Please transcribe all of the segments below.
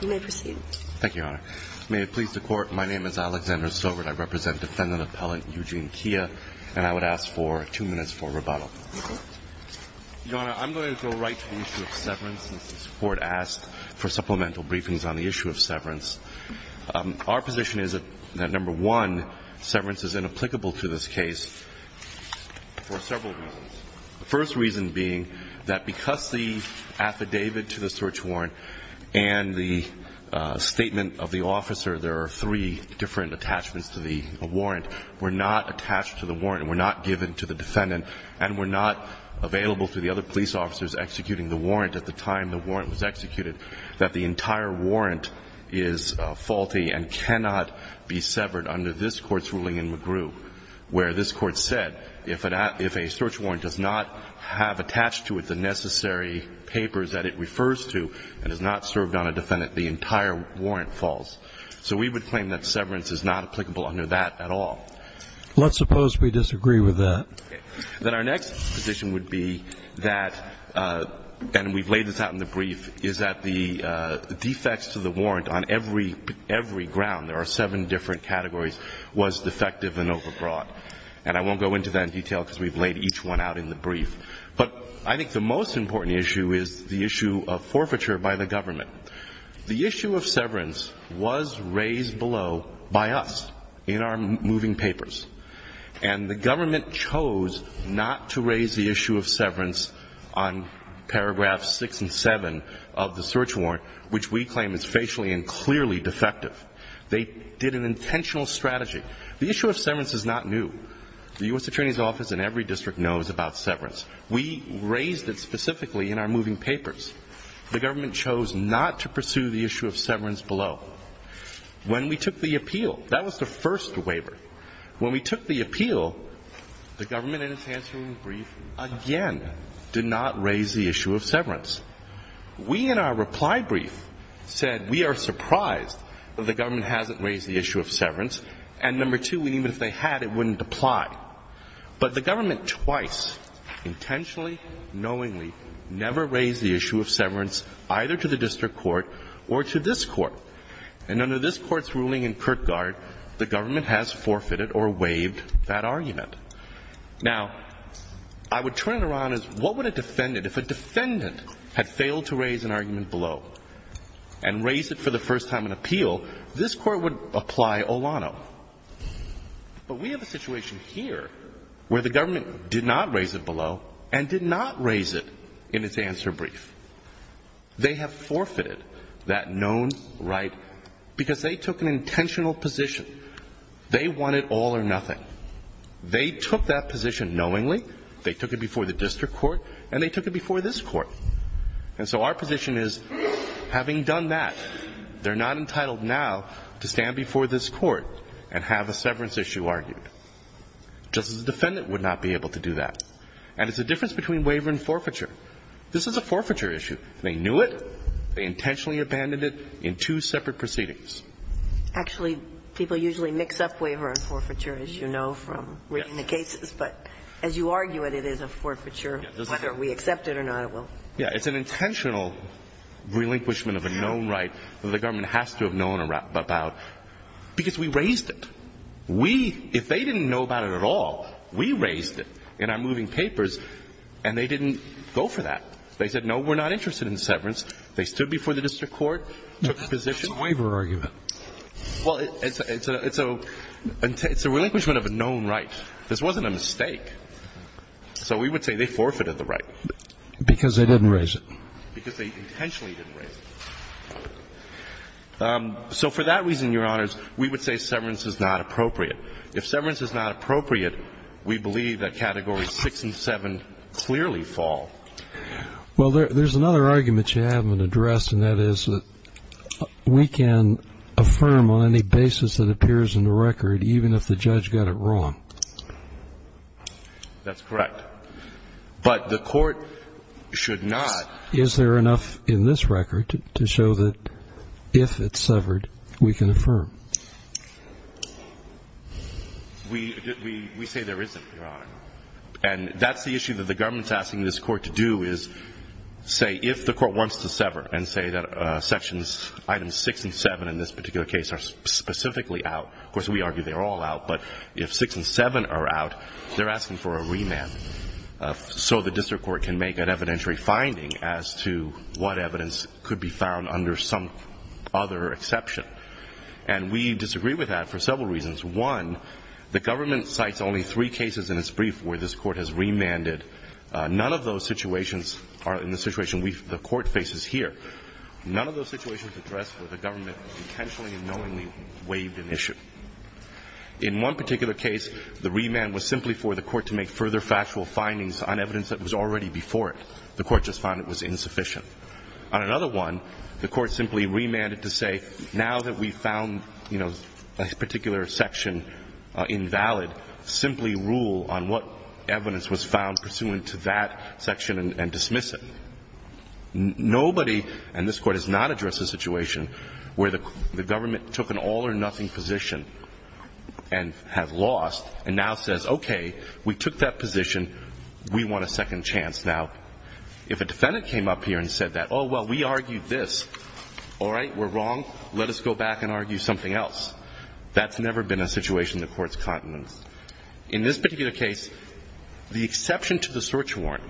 You may proceed. Thank you, Your Honor. May it please the Court, my name is Alexander Stovert. I represent Defendant Appellant Eugene Kia, and I would ask for two minutes for rebuttal. Your Honor, I'm going to go right to the issue of severance since this Court asked for supplemental briefings on the issue of severance. Our position is that, number one, severance is inapplicable to this case for several reasons. The first reason being that because the affidavit to the search warrant and the statement of the officer, there are three different attachments to the warrant, were not attached to the warrant and were not given to the defendant, and were not available to the other police officers executing the warrant at the time the warrant was executed, that the entire warrant is faulty and cannot be severed under this Court's ruling in McGrew, where this Court said if a search warrant does not have attached to it the necessary papers that it refers to and is not served on a defendant, the entire warrant falls. So we would claim that severance is not applicable under that at all. Let's suppose we disagree with that. Then our next position would be that, and we've laid this out in the brief, is that the defects to the warrant on every ground, there are seven different categories, was defective and overbrought. And I won't go into that in detail because we've laid each one out in the brief. But I think the most important issue is the issue of forfeiture by the government. The issue of severance was raised below by us in our moving papers. And the government chose not to raise the issue of severance on paragraphs 6 and 7 of the search warrant, which we claim is facially and clearly defective. They did an intentional strategy. The issue of severance is not new. The U.S. Attorney's Office in every district knows about severance. We raised it specifically in our moving papers. The government chose not to pursue the issue of severance below. When we took the appeal, that was the first waiver. When we took the appeal, the government in its answering brief again did not raise the issue of severance. We in our reply brief said we are surprised that the government hasn't raised the issue of severance below. Now, I would turn it around as what would a defendant, if a defendant had failed to raise an argument below and raised it for the first time in appeal, this Court would apply Olano. not raised the issue of severance below. where the government did not raise it below and did not raise it in its answer brief. They have forfeited that known right because they took an intentional position. They wanted all or nothing. They took that position knowingly. They took it before the district court, and they took it before this court. And so our position is, having done that, they're not entitled now to stand before this court and have a severance issue argued. Justice's defendant would not be able to do that. And it's the difference between waiver and forfeiture. This is a forfeiture issue. They knew it. They intentionally abandoned it in two separate proceedings. Actually, people usually mix up waiver and forfeiture, as you know from reading the cases. But as you argue it, it is a forfeiture. Whether we accept it or not, it will. It's an intentional relinquishment of a known right that the government has to have known about because we raised it. We, if they didn't know about it at all, we raised it in our moving papers, and they didn't go for that. They said, no, we're not interested in severance. They stood before the district court, took the position. It's a waiver argument. Well, it's a relinquishment of a known right. This wasn't a mistake. So we would say they forfeited the right. Because they didn't raise it. Because they intentionally didn't raise it. So for that reason, Your Honors, we would say severance is not appropriate. If severance is not appropriate, we believe that Categories 6 and 7 clearly fall. Well, there's another argument you haven't addressed, and that is that we can affirm on any basis that appears in the record, even if the judge got it wrong. That's correct. But the court should not. Is there enough in this record to show that if it's severed, we can affirm? We say there isn't, Your Honor. And that's the issue that the government's asking this court to do is say, if the court wants to sever and say that Sections items 6 and 7 in this particular case are specifically out. Of course, we argue they're all out. But if 6 and 7 are out, they're asking for a remand. So the district court can make an evidentiary finding as to what evidence could be found under some other exception. And we disagree with that for several reasons. One, the government cites only three cases in its brief where this court has remanded. None of those situations are in the situation the court faces here. None of those situations address where the government intentionally and knowingly waived an issue. In one particular case, the remand was simply for the court to make further factual findings on evidence that was already before it. The court just found it was insufficient. On another one, the court simply remanded to say, now that we've found, you know, a particular section invalid, simply rule on what evidence was found pursuant to that section and dismiss it. Nobody in this court has not addressed a situation where the government took an all arising position and has lost and now says, okay, we took that position. We want a second chance now. If a defendant came up here and said that, oh, well, we argued this. All right, we're wrong. Let us go back and argue something else. That's never been a situation in the court's continence. In this particular case, the exception to the search warrant,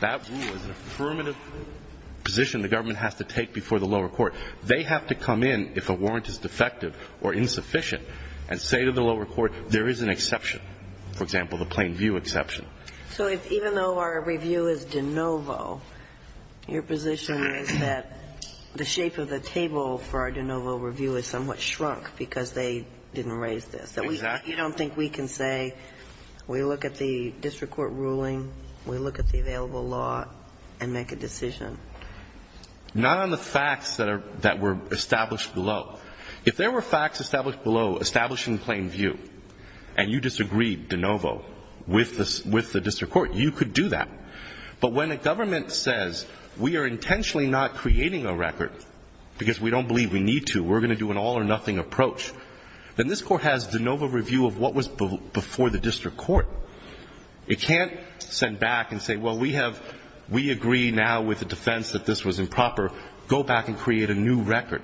that rule is an affirmative position the government has to take before the lower court. They have to come in if a warrant is defective or insufficient and say to the lower court, there is an exception, for example, the plain view exception. So even though our review is de novo, your position is that the shape of the table for our de novo review is somewhat shrunk because they didn't raise this. Exactly. You don't think we can say we look at the district court ruling, we look at the available law and make a decision? Not on the facts that were established below. If there were facts established below, established in plain view, and you disagreed de novo with the district court, you could do that. But when a government says we are intentionally not creating a record because we don't believe we need to, we're going to do an all or nothing approach, then this court has de novo review of what was before the district court. It can't send back and say, well, we have we agree now with the defense that this was improper, go back and create a new record.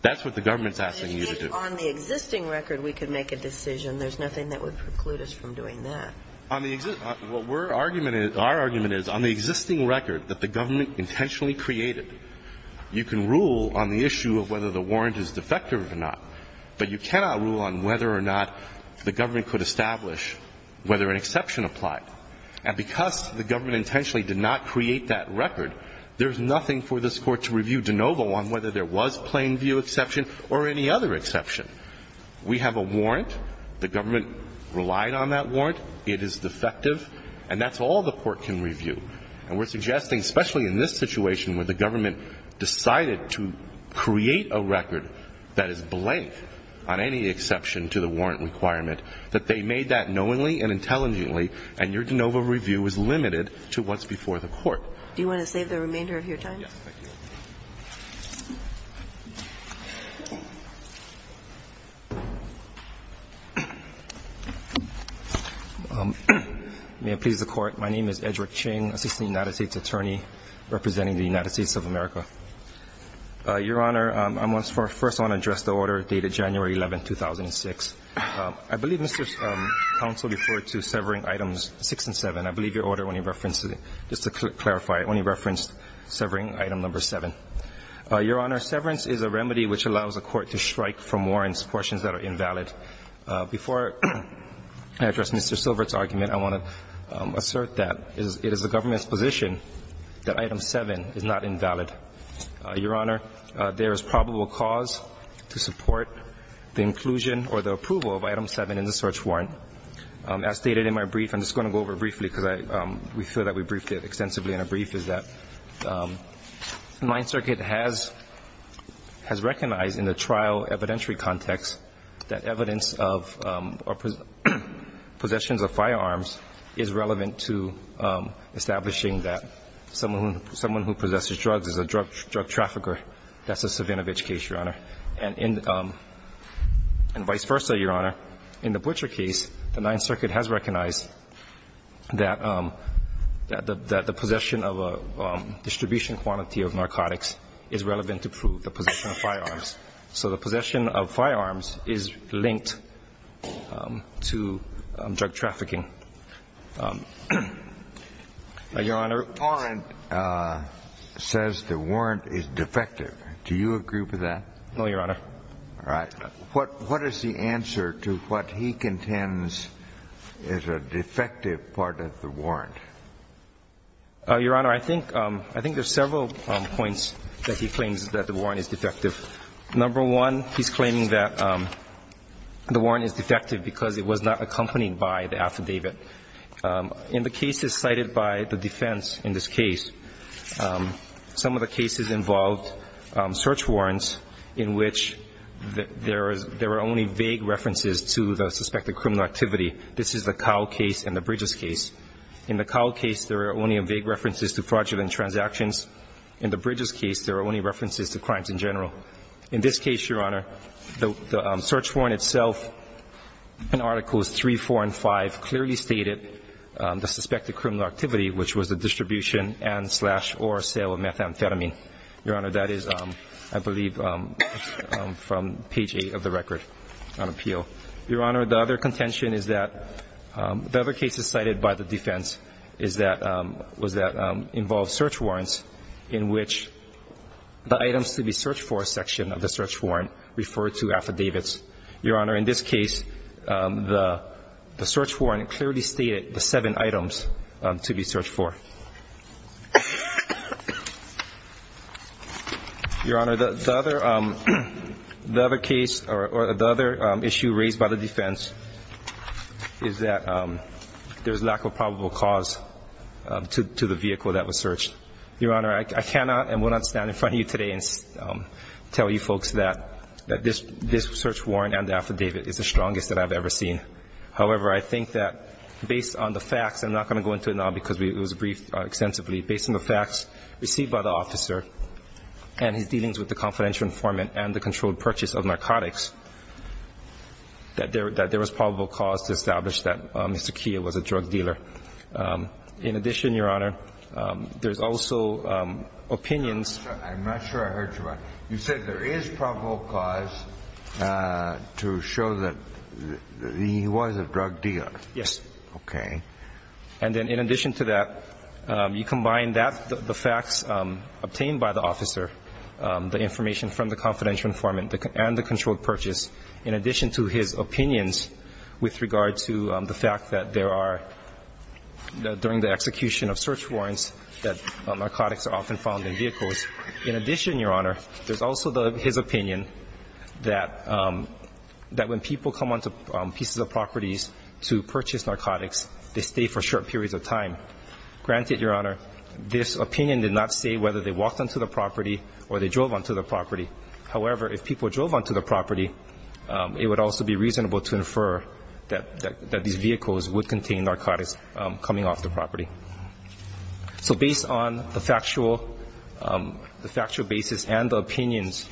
That's what the government is asking you to do. But if on the existing record we could make a decision, there's nothing that would preclude us from doing that. Our argument is on the existing record that the government intentionally created, you can rule on the issue of whether the warrant is defective or not, but you cannot rule on whether or not the government could establish whether an exception applied. And because the government intentionally did not create that record, there is nothing for this Court to review de novo on whether there was plain view exception or any other exception. We have a warrant. The government relied on that warrant. It is defective. And that's all the Court can review. And we're suggesting, especially in this situation where the government decided to create a record that is blank on any exception to the warrant requirement, that they made that knowingly and intelligently, and your de novo review is limited to what's before the Court. Do you want to save the remainder of your time? Yes, thank you. May it please the Court. My name is Edrick Ching, Assistant United States Attorney, representing the United States of America. Your Honor, I first want to address the order dated January 11, 2006. I believe Mr. Counsel referred to severing items 6 and 7. I believe your order, when you referenced it, just to clarify, when you referenced severing item number 7. Your Honor, severance is a remedy which allows a court to strike from warrants portions that are invalid. Before I address Mr. Silvert's argument, I want to assert that it is the government's position that item 7 is not invalid. Your Honor, there is probable cause to support the inclusion or the approval of item 7 in the search warrant. As stated in my brief, I'm just going to go over it briefly because we feel that we briefed it extensively in a brief, is that Ninth Circuit has recognized in the trial evidentiary context that evidence of possessions of firearms is relevant to establishing that someone who possesses drugs is a drug trafficker. That's the Savinovich case, your Honor. And vice versa, your Honor. In the Butcher case, the Ninth Circuit has recognized that the possession of a distribution quantity of narcotics is relevant to prove the possession of firearms. So the possession of firearms is linked to drug trafficking. Your Honor. The warrant says the warrant is defective. Do you agree with that? No, your Honor. All right. What is the answer to what he contends is a defective part of the warrant? Your Honor, I think there's several points that he claims that the warrant is defective. Number one, he's claiming that the warrant is defective because it was not accompanied by the affidavit. In the cases cited by the defense in this case, some of the cases involved search warrants in which there are only vague references to the suspected criminal activity. This is the Cowl case and the Bridges case. In the Cowl case, there are only vague references to fraudulent transactions. In the Bridges case, there are only references to crimes in general. In this case, your Honor, the search warrant itself in Articles 3, 4, and 5 clearly stated the suspected criminal activity, which was the distribution and slash or sale of methamphetamine. Your Honor, that is, I believe, from page 8 of the record on appeal. Your Honor, the other contention is that the other cases cited by the defense is that involved search warrants in which the items to be searched for section of the search warrant referred to affidavits. Your Honor, in this case, the search warrant clearly stated the seven items to be searched for. Your Honor, the other case or the other issue raised by the defense is that there's a lack of probable cause to the vehicle that was searched. Your Honor, I cannot and will not stand in front of you today and tell you folks that this search warrant and the affidavit is the strongest that I've ever seen. However, I think that based on the facts, I'm not going to go into it now because it was briefed extensively, based on the facts received by the officer and his dealings with the confidential informant and the controlled purchase of narcotics, that there is a probable cause to the vehicle that was searched. I'm not going to go into it now because it was briefed extensively, based on the facts received by the officer and his dealings with the confidential informant and the controlled purchase of narcotics, that there is a probable cause to the vehicle I'm not sure I heard you right. During the execution of search warrants that narcotics are often found in vehicles. In addition, Your Honor, there's also his opinion that when people come onto pieces of properties to purchase narcotics, they stay for short periods of time. Granted, Your Honor, this opinion did not say whether they walked onto the property or they drove onto the property. However, if people drove onto the property, it would also be reasonable to infer that these vehicles would contain narcotics coming off the property. So based on the factual basis and the opinions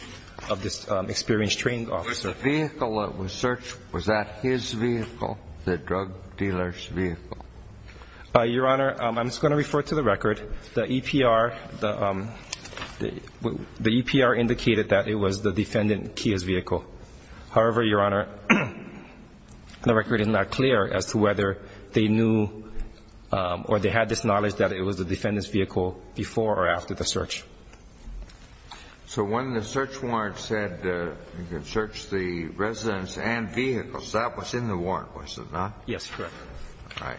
of this experienced trained officer Was the vehicle that was searched, was that his vehicle, the drug dealer's vehicle? Your Honor, I'm just going to refer to the record. The EPR indicated that it was the defendant Kia's vehicle. However, Your Honor, the record is not clear as to whether they knew or they had this knowledge that it was the defendant's vehicle before or after the search. So when the search warrant said you can search the residence and vehicles, that was in the warrant, was it not? Yes, correct. All right.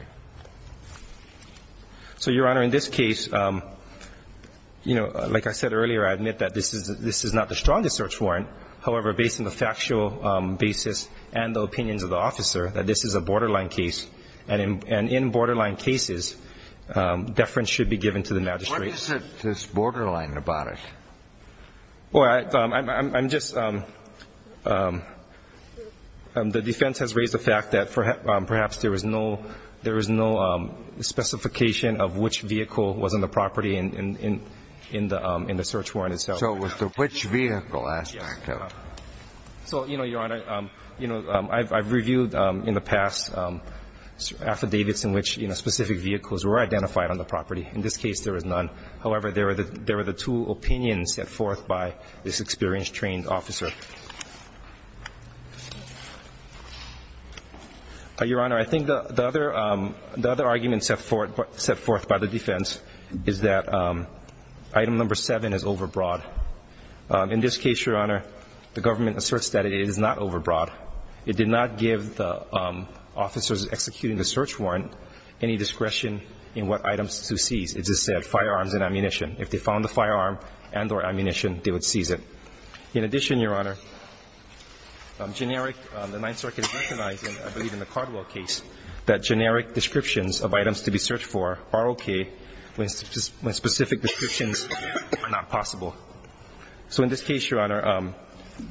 So, Your Honor, in this case, you know, like I said earlier, I admit that this is not the strongest search warrant. However, based on the factual basis and the opinions of the officer, that this is a borderline case. And in borderline cases, deference should be given to the magistrate. What is it that's borderline about it? Well, I'm just, the defense has raised the fact that perhaps there was no specification of which vehicle was on the property in the search warrant itself. So with the which vehicle aspect? So, you know, Your Honor, you know, I've reviewed in the past affidavits in which specific vehicles were identified on the property. In this case, there was none. However, there were the two opinions set forth by this experienced trained officer. Your Honor, I think the other argument set forth by the defense is that item number 7 is overbroad. In this case, Your Honor, the government asserts that it is not overbroad. It did not give the officers executing the search warrant any discretion in what items to seize. It just said firearms and ammunition. If they found the firearm and or ammunition, they would seize it. In addition, Your Honor, generic, the Ninth Circuit recognized, I believe in the Cardwell case, that generic descriptions of items to be searched for are okay when specific descriptions are not possible. So in this case, Your Honor,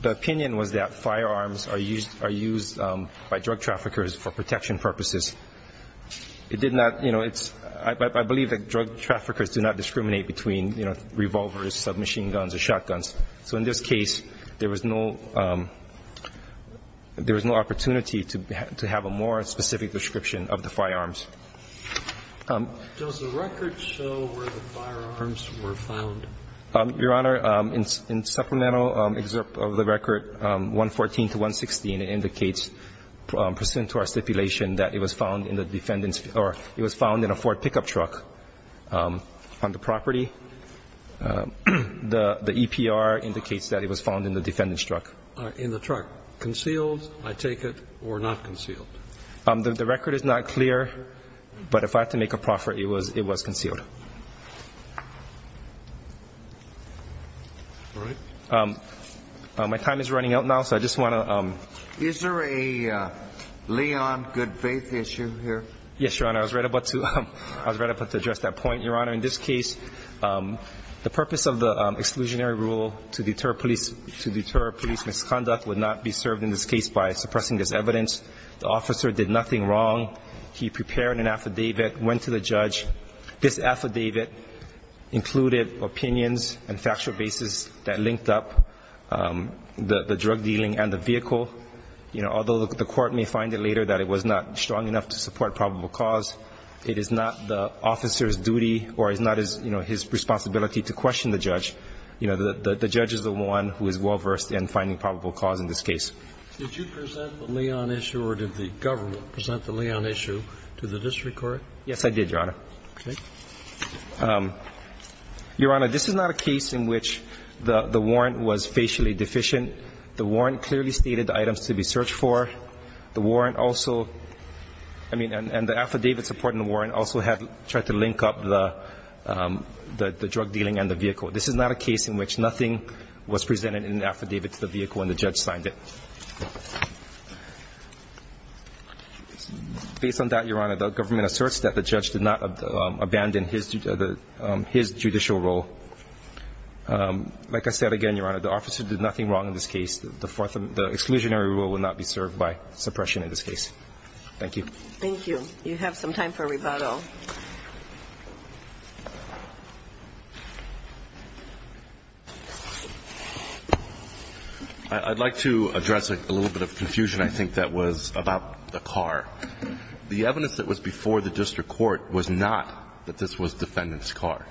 the opinion was that firearms are used by drug traffickers for protection purposes. It did not, you know, it's, I believe that drug traffickers do not discriminate between, you know, revolvers, submachine guns or shotguns. So in this case, there was no opportunity to have a more specific description of the firearms. Does the record show where the firearms were found? Your Honor, in supplemental excerpt of the record, 114 to 116, it indicates pursuant to our stipulation that it was found in the defendant's or it was found in a Ford pickup truck on the property. The EPR indicates that it was found in the defendant's truck. In the truck. Concealed, I take it, or not concealed? The record is not clear, but if I have to make a proffer, it was concealed. All right. My time is running out now, so I just want to... Is there a Leon Goodfaith issue here? Yes, Your Honor. I was right about to address that point. Your Honor, in this case, the purpose of the exclusionary rule to deter police misconduct would not be served in this case by suppressing this evidence. The officer did nothing wrong. He prepared an affidavit, went to the judge. This affidavit included opinions and factual basis that linked up the drug dealing and the vehicle. Although the court may find it later that it was not strong enough to support probable cause, it is not the officer's duty or it's not his responsibility to question the judge. The judge is the one who is well-versed in finding probable cause in this case. Did you present the Leon issue or did the government present the Leon issue to the district court? Yes, I did, Your Honor. Okay. Your Honor, this is not a case in which the warrant was facially deficient. The warrant clearly stated the items to be searched for. The warrant also – I mean, and the affidavit supporting the warrant also had – tried to link up the drug dealing and the vehicle. This is not a case in which nothing was presented in the affidavit to the vehicle when the judge signed it. Based on that, Your Honor, the government asserts that the judge did not abandon his judicial role. Like I said again, Your Honor, the officer did nothing wrong in this case. The exclusionary rule will not be served by suppression in this case. Thank you. Thank you. You have some time for rebuttal. I'd like to address a little bit of confusion, I think, that was about the car. The evidence that was before the district court was not that this was defendant's car.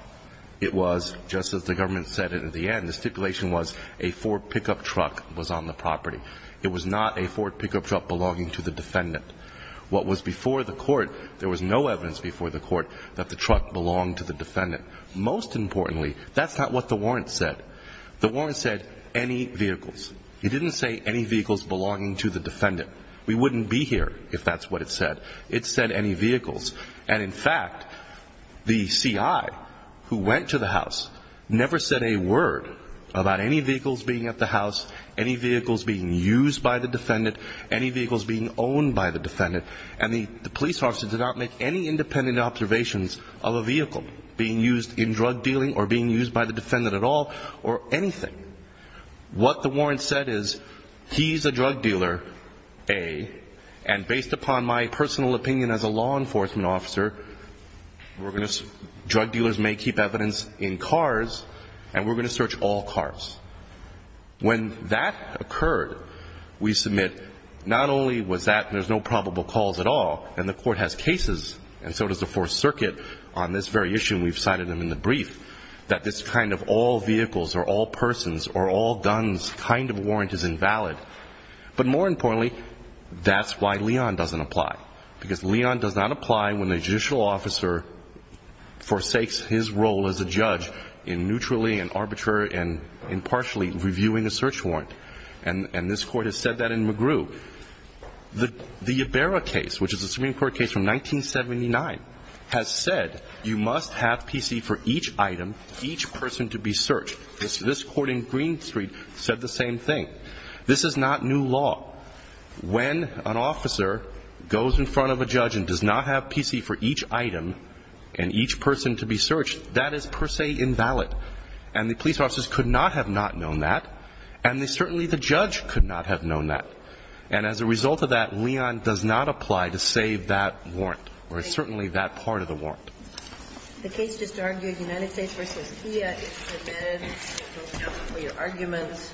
It was, just as the government said in the end, the stipulation was a Ford pickup truck was on the property. It was not a Ford pickup truck belonging to the defendant. What was before the court, there was no evidence before the court that the truck belonged to the defendant. Most importantly, that's not what the warrant said. The warrant said any vehicles. It didn't say any vehicles belonging to the defendant. We wouldn't be here if that's what it said. It said any vehicles. And, in fact, the CI who went to the house never said a word about any vehicles being at the house, any vehicles being used by the defendant, any vehicles being owned by the defendant. And the police officer did not make any independent observations of a vehicle being used in drug dealing or being used by the defendant at all or anything. What the warrant said is, he's a drug dealer, A, and based upon my personal opinion as a law enforcement officer, drug dealers may keep evidence in cars, and we're going to search all cars. When that occurred, we submit not only was that there's no probable cause at all, and the court has cases, and so does the Fourth Circuit, on this very issue, and we've cited them in the brief, that this kind of all vehicles or all persons or all guns kind of warrant is invalid. But more importantly, that's why Leon doesn't apply, because Leon does not apply when a judicial officer forsakes his role as a judge in neutrally and arbitrarily and impartially reviewing a search warrant. And this court has said that in McGrew. The Ibarra case, which is a Supreme Court case from 1979, has said you must have PC for each item, each person to be searched. This court in Green Street said the same thing. This is not new law. When an officer goes in front of a judge and does not have PC for each item and each person to be searched, that is per se invalid. And the police officers could not have not known that, and certainly the judge could not have known that. And as a result of that, Leon does not apply to save that warrant or certainly that part of the warrant. The case just argued United States v. IA is submitted. Thank you for your argument.